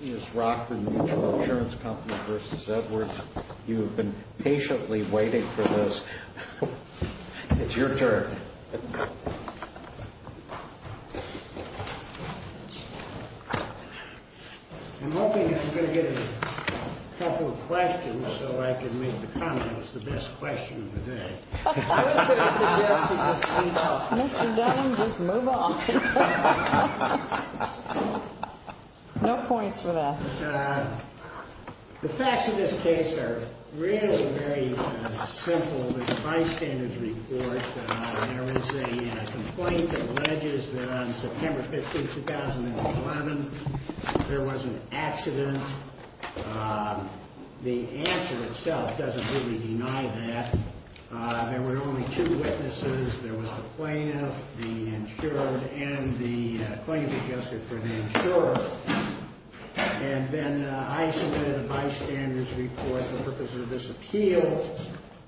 You have been patiently waiting for this. It's your turn. I'm hoping I'm going to get a couple of questions so I can make the comments. It's the best question of the day. Mr. Dunham, just move on. No points for that. The facts of this case are really very simple. It's a bystander's report. There was a complaint that alleges that on September 15, 2011, there was an accident. The answer itself doesn't really deny that. There were only two witnesses. There was the plaintiff, the insured, and the plaintiff's adjuster for the insurer. And then I submitted a bystander's report for the purpose of this appeal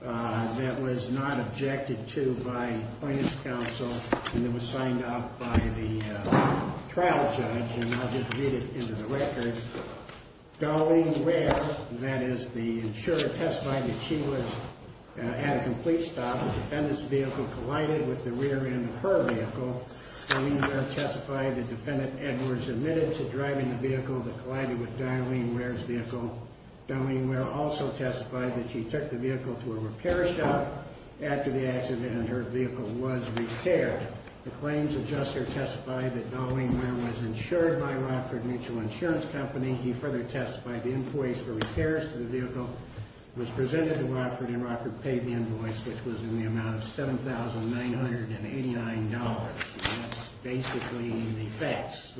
that was not objected to by plaintiff's counsel. And it was signed off by the trial judge. And I'll just read it into the record. Darlene Ware, that is the insurer, testified that she had a complete stop. The defendant's vehicle collided with the rear end of her vehicle. Darlene Ware testified that Defendant Edwards admitted to driving the vehicle that collided with Darlene Ware's vehicle. Darlene Ware also testified that she took the vehicle to a repair shop after the accident and her vehicle was repaired. The claim's adjuster testified that Darlene Ware was insured by Rockford Mutual Insurance Company. He further testified the employees for repairs to the vehicle was presented to Rockford and Rockford paid the invoice, which was in the amount of $7,989. And that's basically the facts.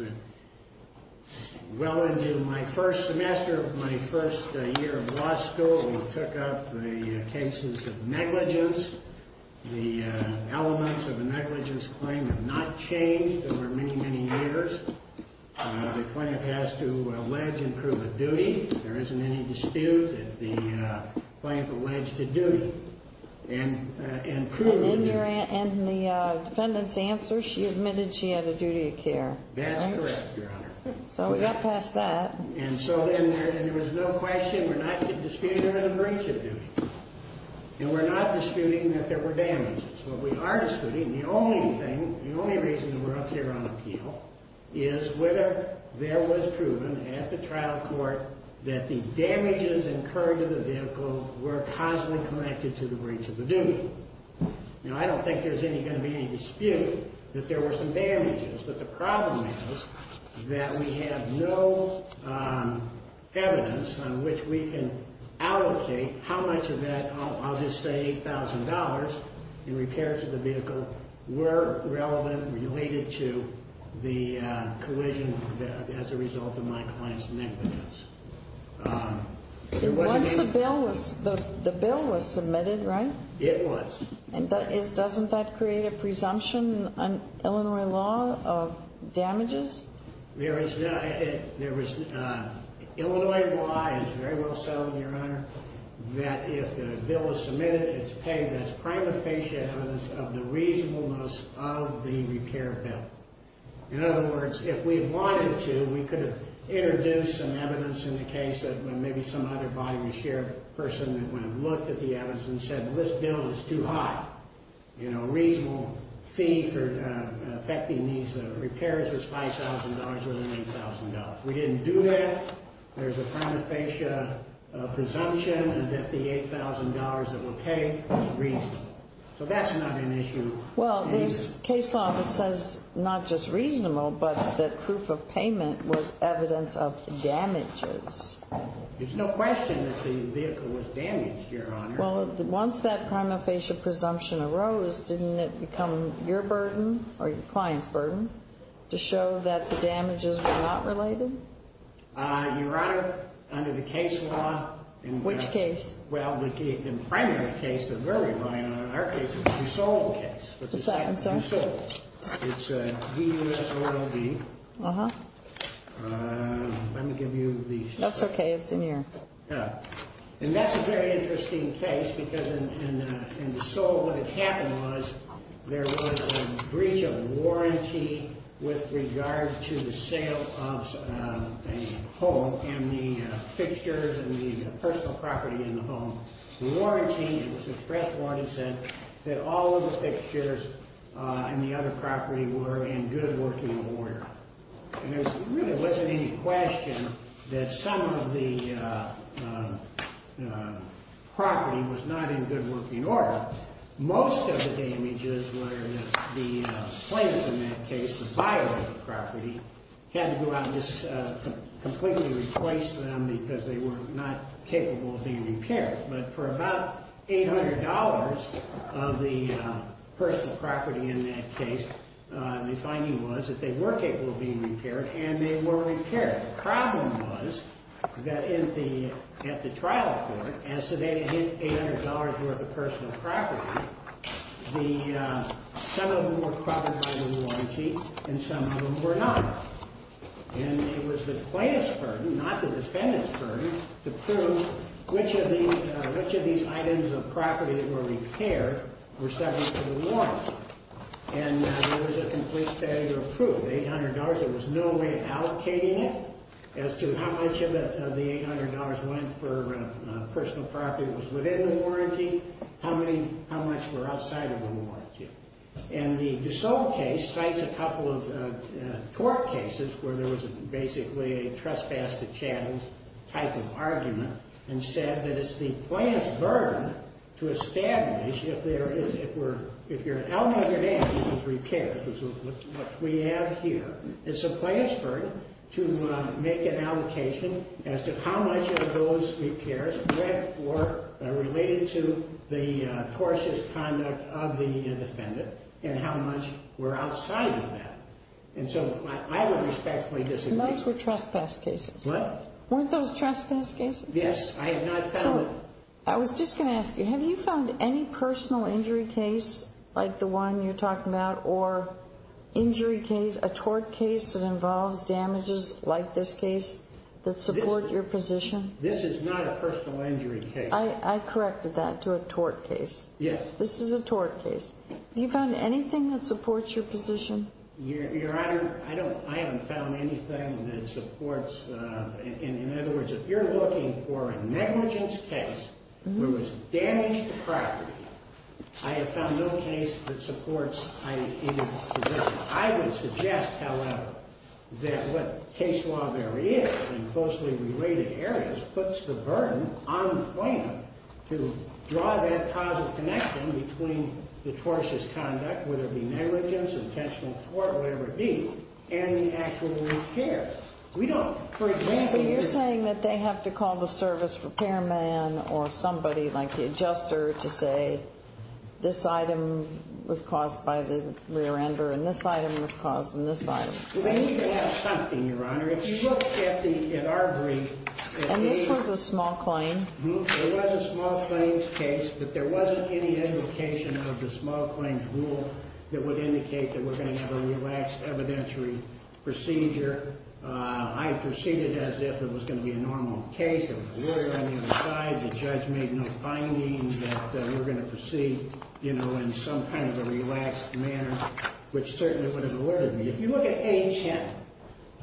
Well into my first semester of my first year of law school, we took up the cases of negligence. The elements of a negligence claim have not changed over many, many years. The plaintiff has to allege and prove a duty. There isn't any dispute that the plaintiff alleged a duty. And the defendant's answer, she admitted she had a duty of care. That's correct, Your Honor. So we got past that. And so then there was no question we're not disputing her breach of duty. And we're not disputing that there were damages. What we are disputing, the only thing, the only reason we're up here on appeal, is whether there was proven at the trial court that the damages incurred to the vehicle were causally connected to the breach of the duty. You know, I don't think there's going to be any dispute that there were some damages. But the problem is that we have no evidence on which we can allocate how much of that, I'll just say $8,000 in repairs to the vehicle were relevant, related to the collision as a result of my client's negligence. Once the bill was submitted, right? It was. And doesn't that create a presumption on Illinois law of damages? Illinois law is very well settled, Your Honor, that if the bill is submitted, it's paid as prima facie evidence of the reasonableness of the repair bill. In other words, if we wanted to, we could have introduced some evidence in the case that maybe some other body was here, a person that would have looked at the evidence and said, well, this bill is too high. You know, a reasonable fee for affecting these repairs was $5,000 or $8,000. We didn't do that. There's a prima facie presumption that the $8,000 that was paid was reasonable. So that's not an issue. Well, there's case law that says not just reasonable, but that proof of payment was evidence of damages. There's no question that the vehicle was damaged, Your Honor. Well, once that prima facie presumption arose, didn't it become your burden or your client's burden to show that the damages were not related? Your Honor, under the case law. Which case? Well, the primary case, the very final, in our case, is the DeSole case. I'm sorry? DeSole. It's D-U-S-O-L-E. Uh-huh. Let me give you the... That's okay. It's in here. And that's a very interesting case because in DeSole what had happened was there was a breach of warranty with regard to the sale of a home and the fixtures and the personal property in the home. The warranty, it was a press warranty, said that all of the fixtures and the other property were in good working order. And there really wasn't any question that some of the property was not in good working order. Most of the damages were that the plaintiff in that case, the buyer of the property, had to go out and just completely replace them because they were not capable of being repaired. But for about $800 of the personal property in that case, the finding was that they were capable of being repaired and they were repaired. The problem was that at the trial court, as to the $800 worth of personal property, some of them were covered by the warranty and some of them were not. And it was the plaintiff's burden, not the defendant's burden, to prove which of these items of property that were repaired were subject to the warranty. And there was a complete failure of proof. $800, there was no way of allocating it as to how much of the $800 went for personal property that was within the warranty, how much were outside of the warranty. And the DeSalle case cites a couple of tort cases where there was basically a trespass to chattels type of argument and said that it's the plaintiff's burden to establish if there is, if you're an element of your damages is repaired, which is what we have here. It's the plaintiff's burden to make an allocation as to how much of those repairs were related to the tortious conduct of the defendant and how much were outside of that. And so I would respectfully disagree. Those were trespass cases. What? Weren't those trespass cases? Yes, I have not found them. I was just going to ask you, have you found any personal injury case like the one you're talking about or injury case, a tort case that involves damages like this case that support your position? This is not a personal injury case. I corrected that to a tort case. Yes. This is a tort case. Have you found anything that supports your position? Your Honor, I haven't found anything that supports. In other words, if you're looking for a negligence case where there was damage to property, I have found no case that supports my position. I would suggest, however, that what case law there is in closely related areas puts the burden on the plaintiff to draw that causal connection between the tortious conduct, whether it be negligence, intentional tort, whatever it be, and the actual repairs. So you're saying that they have to call the service repairman or somebody like the adjuster to say, this item was caused by the rear ender and this item was caused in this item. We need to have something, Your Honor. If you look at our brief. And this was a small claim? It was a small claims case, but there wasn't any indication of the small claims rule that would indicate that we're going to have a relaxed evidentiary procedure. I proceeded as if it was going to be a normal case. There was a lawyer on the other side. The judge made no finding that we were going to proceed in some kind of a relaxed manner, which certainly would have alerted me. If you look at HM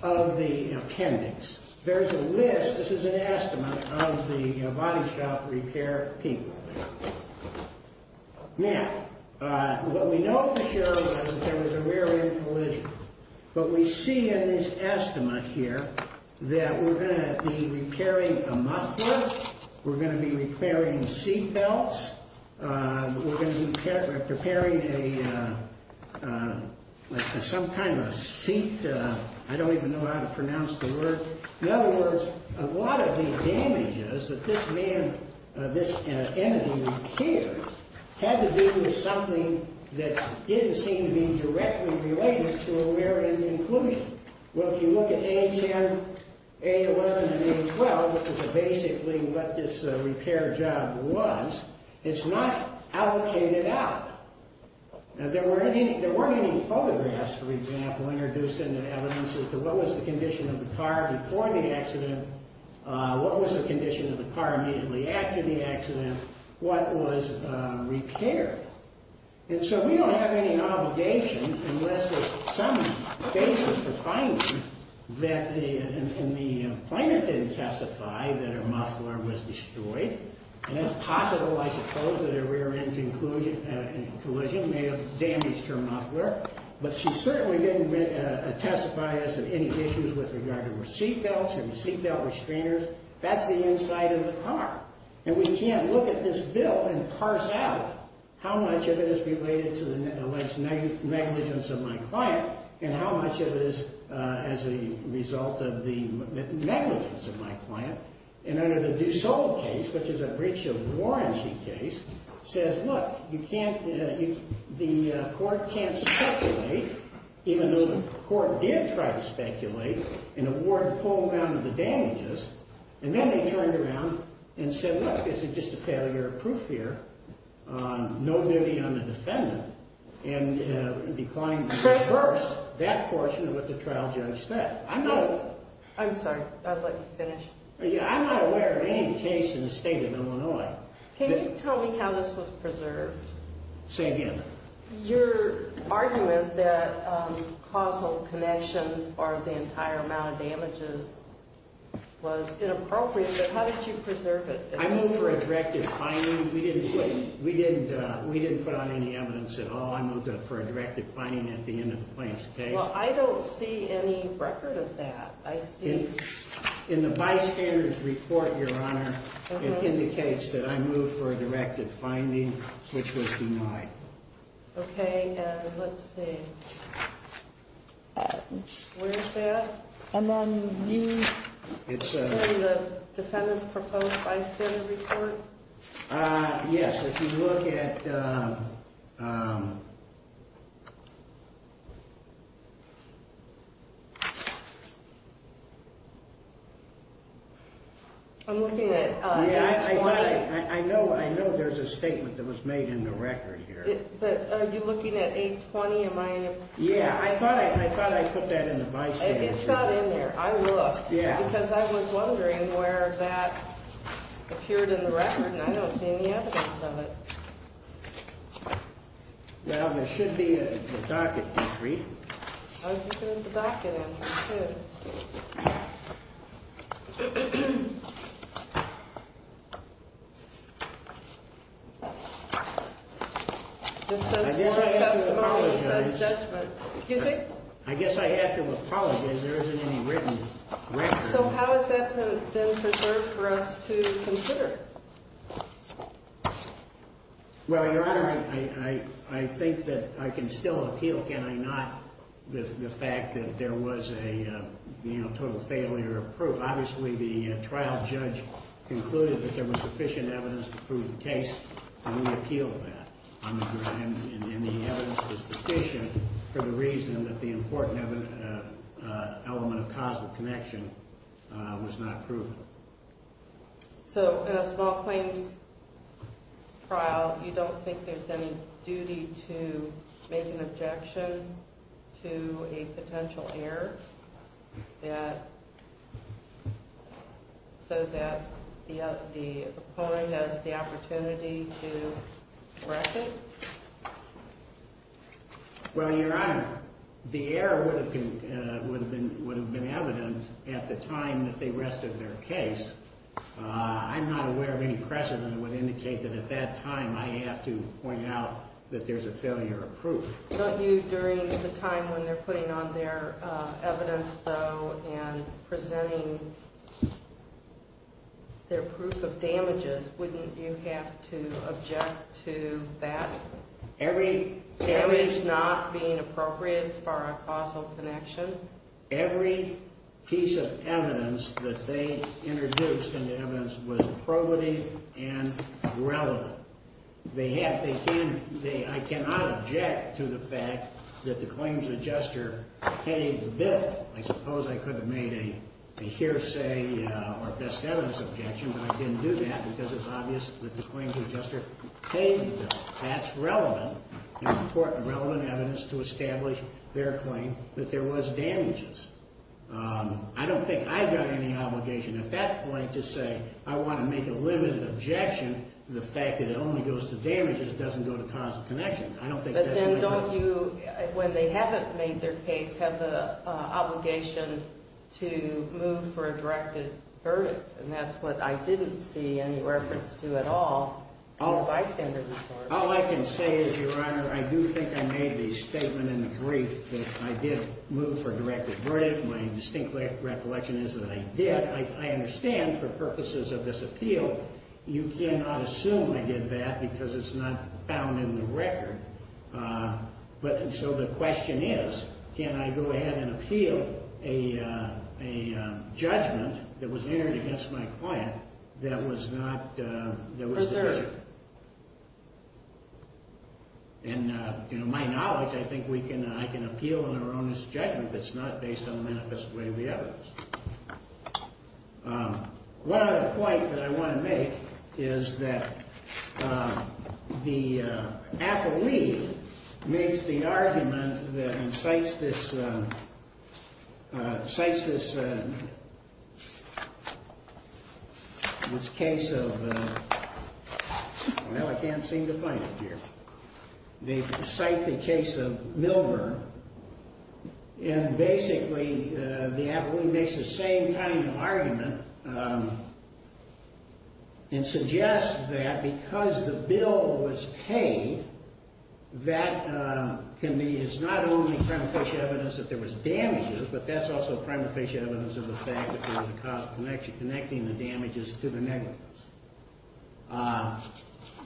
of the appendix, there's a list. This is an estimate of the body shop repair people. Now, what we know for sure is that there was a rear end collision. But we see in this estimate here that we're going to be repairing a muffler. We're going to be repairing seat belts. We're going to be preparing some kind of a seat. I don't even know how to pronounce the word. In other words, a lot of the damage is that this man, this entity here, had to do with something that didn't seem to be directly related to a rear end collision. Well, if you look at A10, A11, and A12, which is basically what this repair job was, it's not allocated out. There weren't any photographs, for example, introduced into evidence as to what was the condition of the car before the accident, what was the condition of the car immediately after the accident, what was repaired. And so we don't have any obligation unless there's some basis for finding that the plaintiff didn't testify that her muffler was destroyed. And that's possible, I suppose, that a rear end collision may have damaged her muffler. But she certainly didn't testify as to any issues with regard to her seat belts, her seat belt restrainers. That's the inside of the car. And we can't look at this bill and parse out how much of it is related to the alleged negligence of my client and how much of it is as a result of the negligence of my client. And under the Dussault case, which is a breach of warranty case, says, look, the court can't speculate, even though the court did try to speculate and award full amount of the damages. And then they turned around and said, look, this is just a failure of proof here. No duty on the defendant. And declined at first that portion of what the trial judge said. I'm sorry. I'd like to finish. I'm not aware of any case in the state of Illinois. Can you tell me how this was preserved? Say again. Your argument that causal connection or the entire amount of damages was inappropriate, but how did you preserve it? I moved for a directive finding. We didn't put on any evidence at all. I moved for a directive finding at the end of the plaintiff's case. Well, I don't see any record of that. In the bystander's report, Your Honor, it indicates that I moved for a directive finding, which was denied. Okay. And let's see. Where is that? It's in the defendant's proposed bystander report? Yes. If you look at. I'm looking at. I know. I know. There's a statement that was made in the record here. Are you looking at 820? Yeah, I thought I thought I put that in the bystander's report. It's not in there. I looked because I was wondering where that appeared in the record, and I don't see any evidence of it. Now, there should be a docket. I was looking at the docket in here, too. I guess I have to apologize. Excuse me? I guess I have to apologize. There isn't any written record. So how has that been preserved for us to consider? Well, Your Honor, I think that I can still appeal, can I not, the fact that there was a total failure of proof. Obviously, the trial judge concluded that there was sufficient evidence to prove the case, and we appealed that. And the evidence is sufficient for the reason that the important element of causal connection was not proven. So in a small claims trial, you don't think there's any duty to make an objection to a potential error? So that the opponent has the opportunity to correct it? Well, Your Honor, the error would have been evident at the time that they rested their case. I'm not aware of any precedent that would indicate that at that time I have to point out that there's a failure of proof. Don't you, during the time when they're putting on their evidence, though, and presenting their proof of damages, wouldn't you have to object to that? Damage not being appropriate for a causal connection? Every piece of evidence that they introduced in the evidence was probative and relevant. I cannot object to the fact that the claims adjuster paid the bill. I suppose I could have made a hearsay or best evidence objection, but I didn't do that because it's obvious that the claims adjuster paid the bill. That's relevant and important, relevant evidence to establish their claim that there was damages. I don't think I've got any obligation at that point to say I want to make a limited objection to the fact that it only goes to damages, it doesn't go to causal connections. But then don't you, when they haven't made their case, have the obligation to move for a directed verdict? And that's what I didn't see any reference to at all in the bystander report. All I can say is, Your Honor, I do think I made the statement in the brief that I did move for a directed verdict. My distinct recollection is that I did. I understand, for purposes of this appeal, you cannot assume I did that because it's not found in the record. So the question is, can I go ahead and appeal a judgment that was entered against my client that was not... Preserved. In my knowledge, I think I can appeal an erroneous judgment that's not based on the manifest way of the evidence. One other point that I want to make is that the appellee makes the argument that incites this case of... Well, I can't seem to find it here. They cite the case of Milburn. And basically, the appellee makes the same kind of argument and suggests that because the bill was paid, that can be, it's not only prima facie evidence that there was damages, but that's also prima facie evidence of the fact that there was a causal connection connecting the damages to the negligence.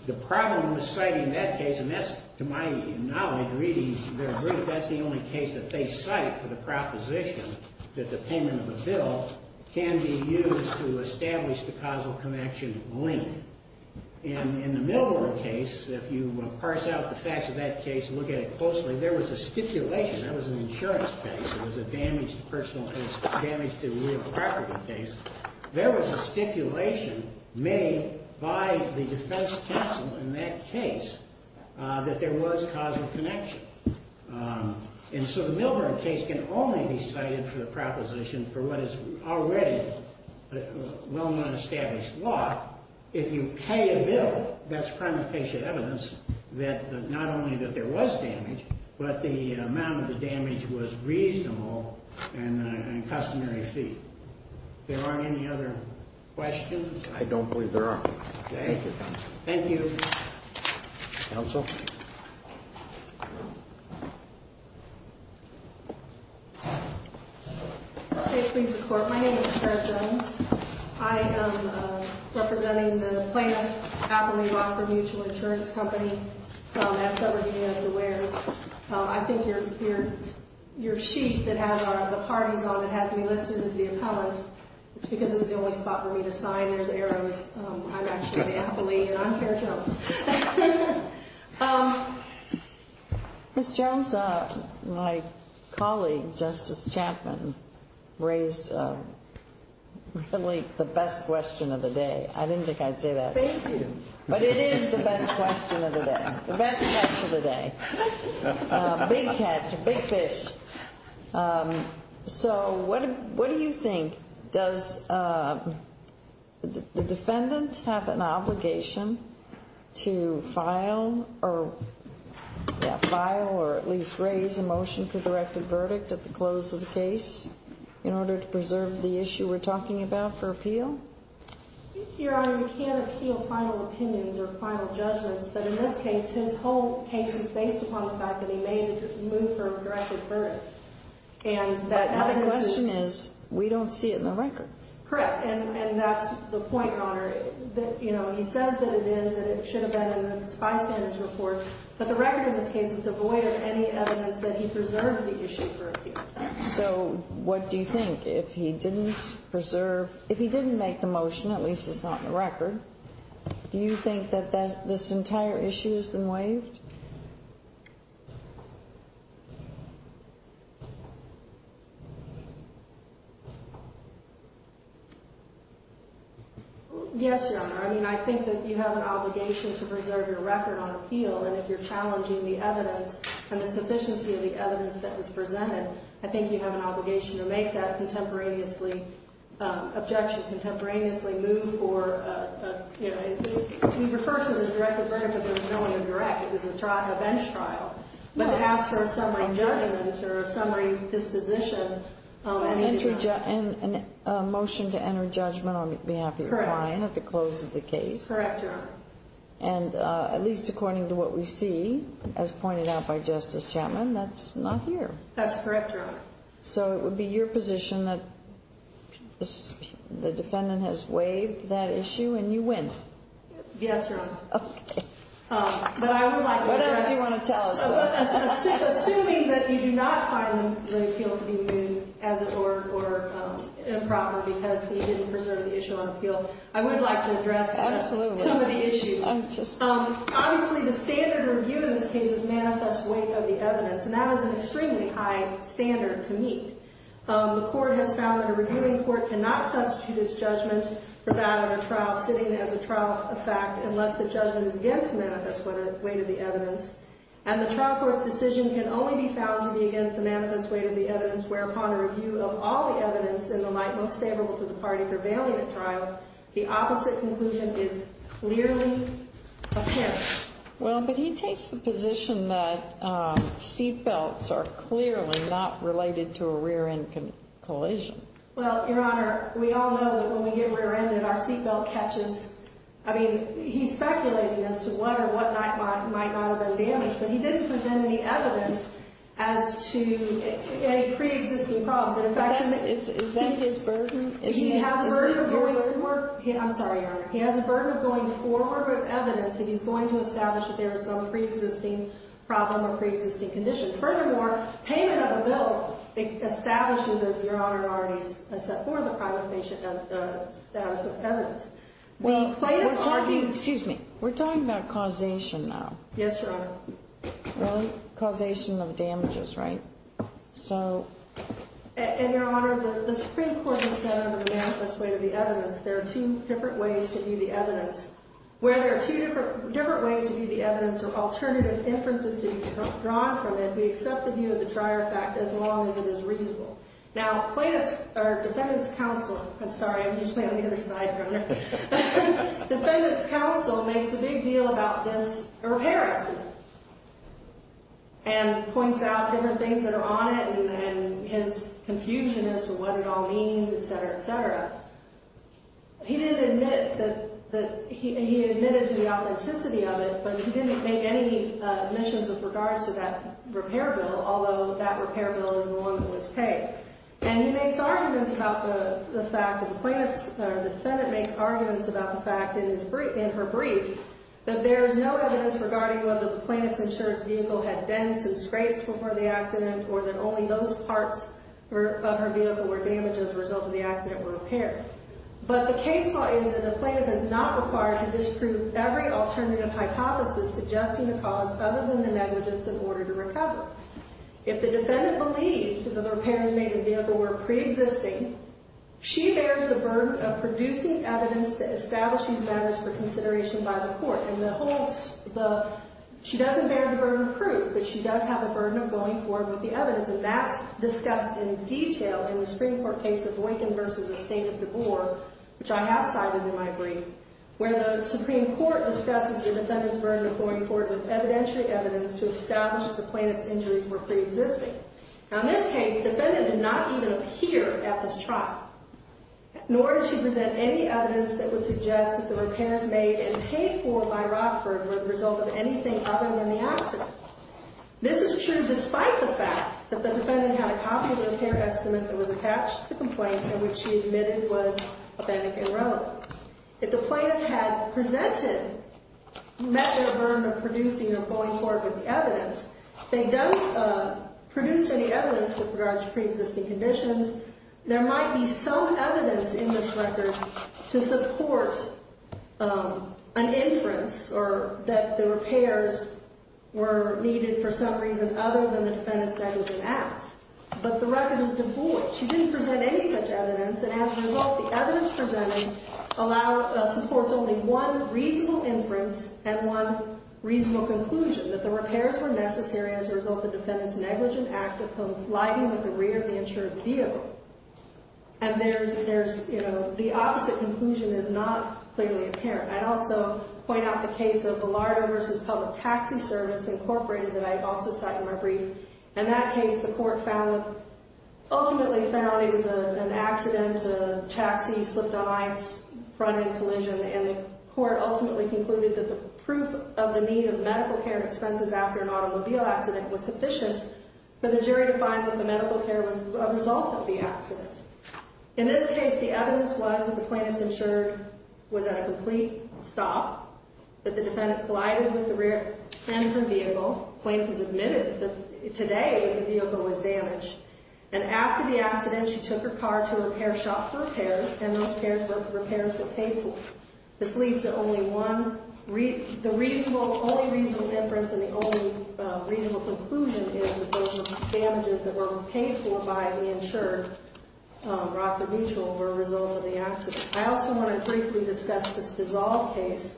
The problem with citing that case, and that's, to my knowledge, reading their brief, that's the only case that they cite for the proposition that the payment of the bill can be used to establish the causal connection link. And in the Milburn case, if you parse out the facts of that case and look at it closely, there was a stipulation. That was an insurance case. It was a damage to personal, damage to real property case. There was a stipulation made by the defense counsel in that case that there was causal connection. And so the Milburn case can only be cited for the proposition for what is already a well-established law. If you pay a bill, that's prima facie evidence that not only that there was damage, but the amount of the damage was reasonable and a customary fee. If there aren't any other questions. I don't believe there are. Thank you, counsel. Thank you. Counsel? State please the court. My name is Sarah Jones. I am representing the Plano-Happily Rockford Mutual Insurance Company at Southern Union of the Wares. I think your sheet that has the parties on it has me listed as the appellant. It's because it was the only spot for me to sign. There's arrows. I'm actually the appellee, and I'm Sarah Jones. Ms. Jones, my colleague, Justice Chapman, raised really the best question of the day. I didn't think I'd say that. Thank you. But it is the best question of the day. The best question of the day. Big catch. Big fish. So what do you think? Does the defendant have an obligation to file or at least raise a motion for directed verdict at the close of the case in order to preserve the issue we're talking about for appeal? Your Honor, you can't appeal final opinions or final judgments. But in this case, his whole case is based upon the fact that he made a move for a directed verdict. But the question is, we don't see it in the record. Correct. And that's the point, Your Honor. He says that it is, that it should have been in the bystanders report. But the record in this case is devoid of any evidence that he preserved the issue for appeal. So what do you think? If he didn't preserve, if he didn't make the motion, at least it's not in the record, do you think that this entire issue has been waived? Yes, Your Honor. I mean, I think that you have an obligation to preserve your record on appeal. And if you're challenging the evidence and the sufficiency of the evidence that was presented, I think you have an obligation to make that contemporaneously objection, contemporaneously move for a, you know, he refers to it as a directed verdict, but there was no one to direct. It was a trial, a bench trial. But to ask for a summary judgment or a summary disposition. And a motion to enter judgment on behalf of your client at the close of the case. Correct, Your Honor. And at least according to what we see, as pointed out by Justice Chapman, that's not here. That's correct, Your Honor. So it would be your position that the defendant has waived that issue and you win? Yes, Your Honor. Okay. But I would like to address. What else do you want to tell us? Assuming that you do not find the appeal to be viewed as or improper because he didn't preserve the issue on appeal, I would like to address some of the issues. Obviously, the standard review in this case is manifest weight of the evidence. And that is an extremely high standard to meet. The court has found that a reviewing court cannot substitute its judgment for that of a trial sitting as a trial of fact, unless the judgment is against the manifest weight of the evidence. And the trial court's decision can only be found to be against the manifest weight of the evidence, whereupon a review of all the evidence in the light most favorable to the party prevailing at trial, the opposite conclusion is clearly apparent. Well, but he takes the position that seat belts are clearly not related to a rear-end collision. Well, Your Honor, we all know that when we get rear-ended, our seat belt catches. I mean, he's speculating as to what or what might not have been damaged, but he didn't present any evidence as to any preexisting problems. Is that his burden? He has a burden of going forward. I'm sorry, Your Honor. He has a burden of going forward with evidence if he's going to establish that there is some preexisting problem or preexisting condition. Furthermore, payment of a bill establishes, as Your Honor already has said, for the private patient status of evidence. Well, we're talking about causation now. Yes, Your Honor. Well, causation of damages, right? So. And, Your Honor, the Supreme Court has said under the manifest weight of the evidence there are two different ways to view the evidence. Where there are two different ways to view the evidence or alternative inferences to be drawn from it, we accept the view of the trier fact as long as it is reasonable. Now, plaintiffs or defendants counsel – I'm sorry, I'm just playing on the other side, Your Honor. Defendants counsel makes a big deal about this repair estimate and points out different things that are on it and his confusion as to what it all means, et cetera, et cetera. He didn't admit that – he admitted to the authenticity of it, but he didn't make any admissions with regards to that repair bill, although that repair bill is the one that was paid. And he makes arguments about the fact that the plaintiff's – the defendant makes arguments about the fact in her brief that there is no evidence regarding whether the plaintiff's insurance vehicle had dents and scrapes before the accident or that only those parts of her vehicle were damaged as a result of the accident were repaired. But the case law is that the plaintiff is not required to disprove every alternative hypothesis suggesting the cause If the defendant believed that the repairs made to the vehicle were preexisting, she bears the burden of producing evidence to establish these matters for consideration by the court. And the whole – she doesn't bear the burden of proof, but she does have a burden of going forward with the evidence. And that's discussed in detail in the Supreme Court case of Lincoln v. the State of Deboer, which I have cited in my brief, where the Supreme Court discusses the defendant's burden of going forward with evidentiary evidence to establish that the plaintiff's injuries were preexisting. Now, in this case, the defendant did not even appear at this trial, nor did she present any evidence that would suggest that the repairs made and paid for by Rockford were the result of anything other than the accident. This is true despite the fact that the defendant had a copy of the repair estimate that was attached to the complaint and which she admitted was authentic and relevant. So, if the plaintiff had presented – met their burden of producing or going forward with the evidence, they don't produce any evidence with regards to preexisting conditions. There might be some evidence in this record to support an inference or that the repairs were needed for some reason other than the defendant's negligent acts. But the record is devoid. She didn't present any such evidence, and as a result, the evidence presented supports only one reasonable inference and one reasonable conclusion, that the repairs were necessary as a result of the defendant's negligent act of lighting the rear of the insurance vehicle. And there's – you know, the opposite conclusion is not clearly apparent. I'd also point out the case of Larder v. Public Taxi Service, Inc., that I also cite in my brief. In that case, the court found – ultimately found it was an accident, a taxi slipped on ice, front-end collision, and the court ultimately concluded that the proof of the need of medical care expenses after an automobile accident was sufficient for the jury to find that the medical care was a result of the accident. In this case, the evidence was that the plaintiff's insurance was at a complete stop, that the defendant collided with the rear end of the vehicle. The plaintiff has admitted that today the vehicle was damaged. And after the accident, she took her car to a repair shop for repairs, and those repairs were paid for. This leads to only one – the reasonable – only reasonable inference and the only reasonable conclusion is that those damages that were paid for by the insured, Rockford Mutual, were a result of the accident. I also want to briefly discuss this Dissolve case.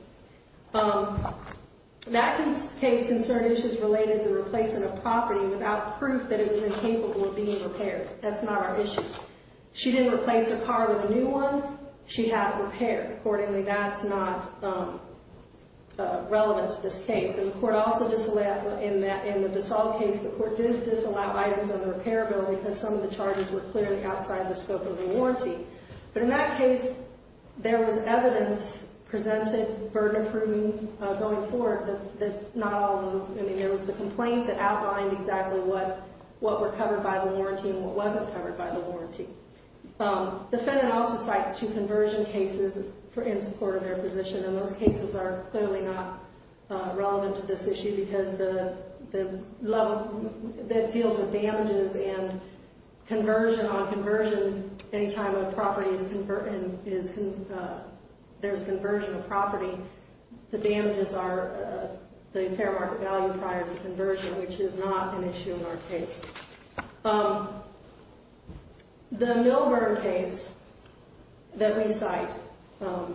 That case concerned issues related to replacing a property without proof that it was incapable of being repaired. That's not our issue. She didn't replace her car with a new one. She had it repaired. Accordingly, that's not relevant to this case. And the court also disallowed – in the Dissolve case, the court did disallow items on the repair bill because some of the charges were clearly outside the scope of the warranty. But in that case, there was evidence presented, burden approving going forward, that not all – I mean, there was the complaint that outlined exactly what were covered by the warranty and what wasn't covered by the warranty. The defendant also cites two conversion cases in support of their position, and those cases are clearly not relevant to this issue because the – that deals with damages and conversion on conversion. Any time a property is – there's conversion of property, the damages are the fair market value prior to conversion, which is not an issue in our case. The Milburn case that we cite, the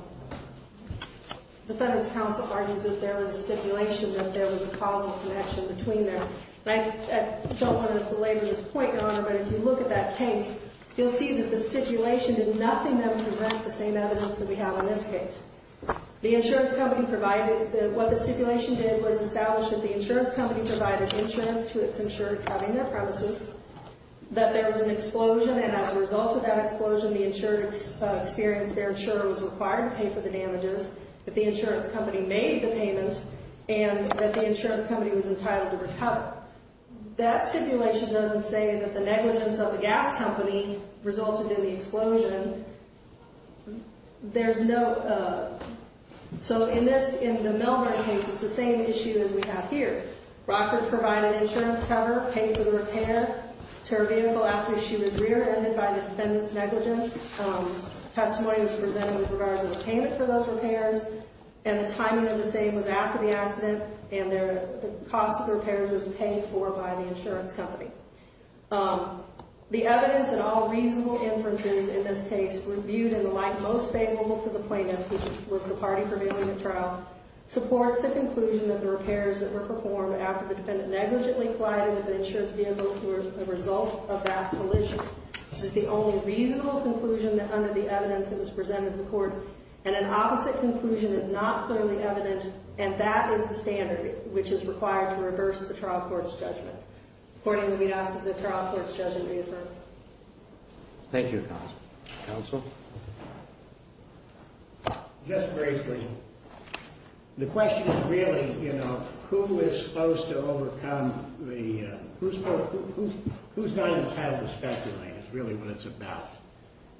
defendant's counsel argues that there was a stipulation that there was a causal connection between them. And I don't want to belabor this point, Your Honor, but if you look at that case, you'll see that the stipulation did nothing that would present the same evidence that we have in this case. The insurance company provided – what the stipulation did was establish that the insurance company provided insurance to its insured property, their premises, that there was an explosion, and as a result of that explosion, the insured experience, their insurer was required to pay for the damages, that the insurance company made the payment, and that the insurance company was entitled to recover. That stipulation doesn't say that the negligence of the gas company resulted in the explosion. There's no – so in this – in the Milburn case, it's the same issue as we have here. Rockford provided insurance cover, paid for the repair to her vehicle after she was rear-ended by the defendant's negligence. Testimony was presented with regards to the payment for those repairs, and the timing of the same was after the accident, and the cost of the repairs was paid for by the insurance company. The evidence in all reasonable inferences in this case, reviewed in the light most favorable to the plaintiff, which was the party prevailing at trial, supports the conclusion that the repairs that were performed after the defendant negligently collided with the insurance vehicle were a result of that collision. This is the only reasonable conclusion under the evidence that was presented to the court, and an opposite conclusion is not clearly evident, and that is the standard which is required to reverse the trial court's judgment. Accordingly, we ask that the trial court's judgment be affirmed. Thank you, counsel. Counsel? Just briefly. The question is really, you know, who is supposed to overcome the, who's not entitled to speculate is really what it's about.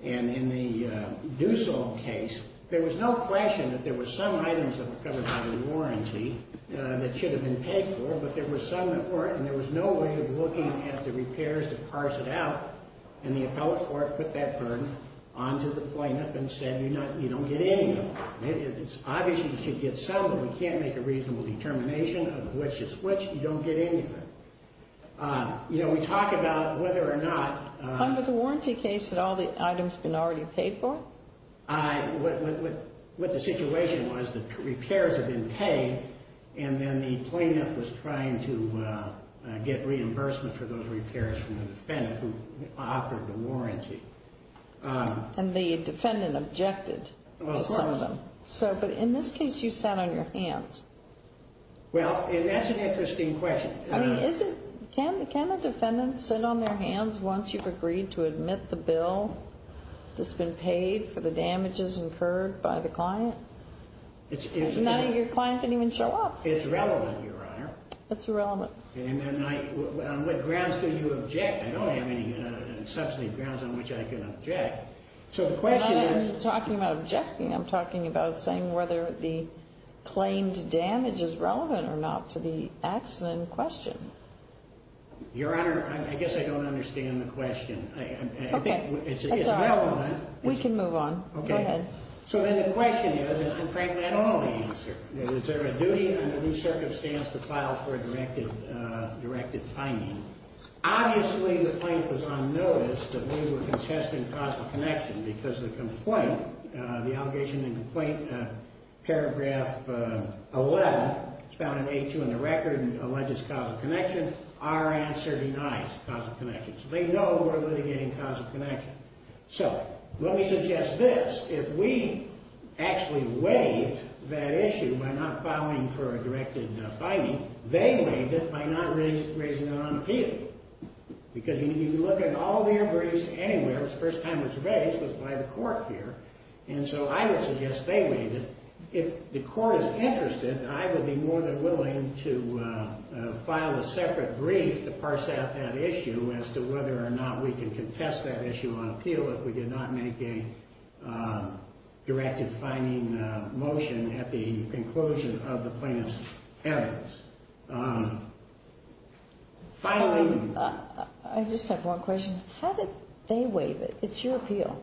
And in the Dussel case, there was no question that there were some items that were covered by the warranty that should have been paid for, but there were some that weren't, and there was no way of looking at the repairs to parse it out, and the appellate court put that burden onto the plaintiff and said, you don't get any of them. It's obvious you should get some, but we can't make a reasonable determination of which is which. You don't get anything. You know, we talk about whether or not... Under the warranty case, had all the items been already paid for? What the situation was, the repairs had been paid, and then the plaintiff was trying to get reimbursement for those repairs from the defendant who offered the warranty. And the defendant objected to some of them. Well, of course. So, but in this case, you sat on your hands. Well, and that's an interesting question. I mean, is it, can a defendant sit on their hands once you've agreed to admit the bill that's been paid for the damages incurred by the client? None of your client didn't even show up. It's relevant, Your Honor. It's relevant. And then I, on what grounds do you object? I don't have any substantive grounds on which I can object. So the question is... I'm not talking about objecting. I'm talking about saying whether the claimed damage is relevant or not to the accident question. Your Honor, I guess I don't understand the question. I think it's relevant. We can move on. Okay. Go ahead. So then the question is, and frankly, I don't know the answer. Is there a duty under the circumstance to file for a directed finding? Obviously, the claimant was on notice that we were contesting causal connection because the complaint, the allegation in complaint paragraph 11, it's found in A2 in the record, alleges causal connection. Our answer denies causal connection. So they know we're litigating causal connection. So let me suggest this. If we actually waived that issue by not filing for a directed finding, they waived it by not raising it on appeal. Because if you look at all the agreements anywhere, the first time it was raised was by the court here. And so I would suggest they waive it. If the court is interested, I would be more than willing to file a separate brief to parse out that issue as to whether or not we can contest that issue on appeal if we did not make a directed finding motion at the conclusion of the plaintiff's evidence. Finally... I just have one question. How did they waive it? It's your appeal.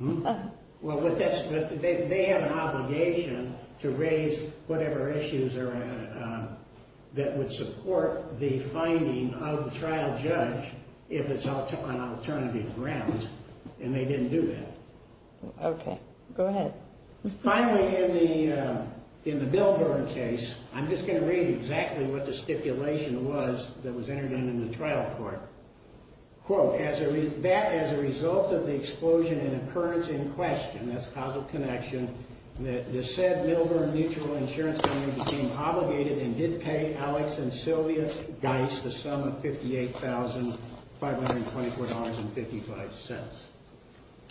Well, they have an obligation to raise whatever issues that would support the finding of the trial judge if it's on alternative grounds. And they didn't do that. Okay. Go ahead. Finally, in the Milburn case, I'm just going to read exactly what the stipulation was that was entered in in the trial court. Quote, as a result of the explosion and occurrence in question, that's causal connection, the said Milburn Mutual Insurance Company became obligated and did pay Alex and Sylvia Geis the sum of $58,524.55.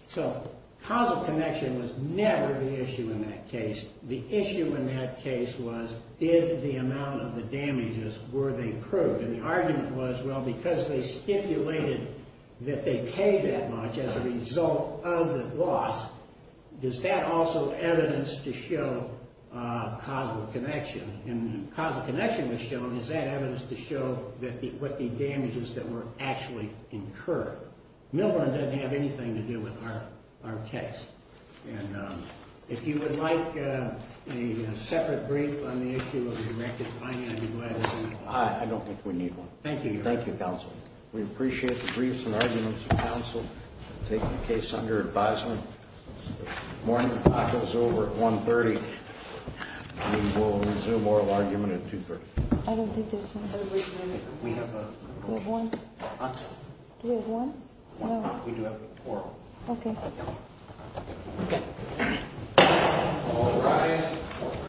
So causal connection was never the issue in that case. The issue in that case was did the amount of the damages, were they proved? And the argument was, well, because they stipulated that they paid that much as a result of the loss, does that also evidence to show causal connection? And causal connection was shown. Is that evidence to show what the damages that were actually incurred? Milburn doesn't have anything to do with our case. And if you would like a separate brief on the issue of the directed finding, I'd be glad to do that. I don't think we need one. Thank you. Thank you, counsel. We appreciate the briefs and arguments of counsel taking the case under advisement. Morning talk is over at 1.30. We will resume oral argument at 2.30. I don't think there's one. We have one. Do we have one? No. We do have oral. Okay. Okay.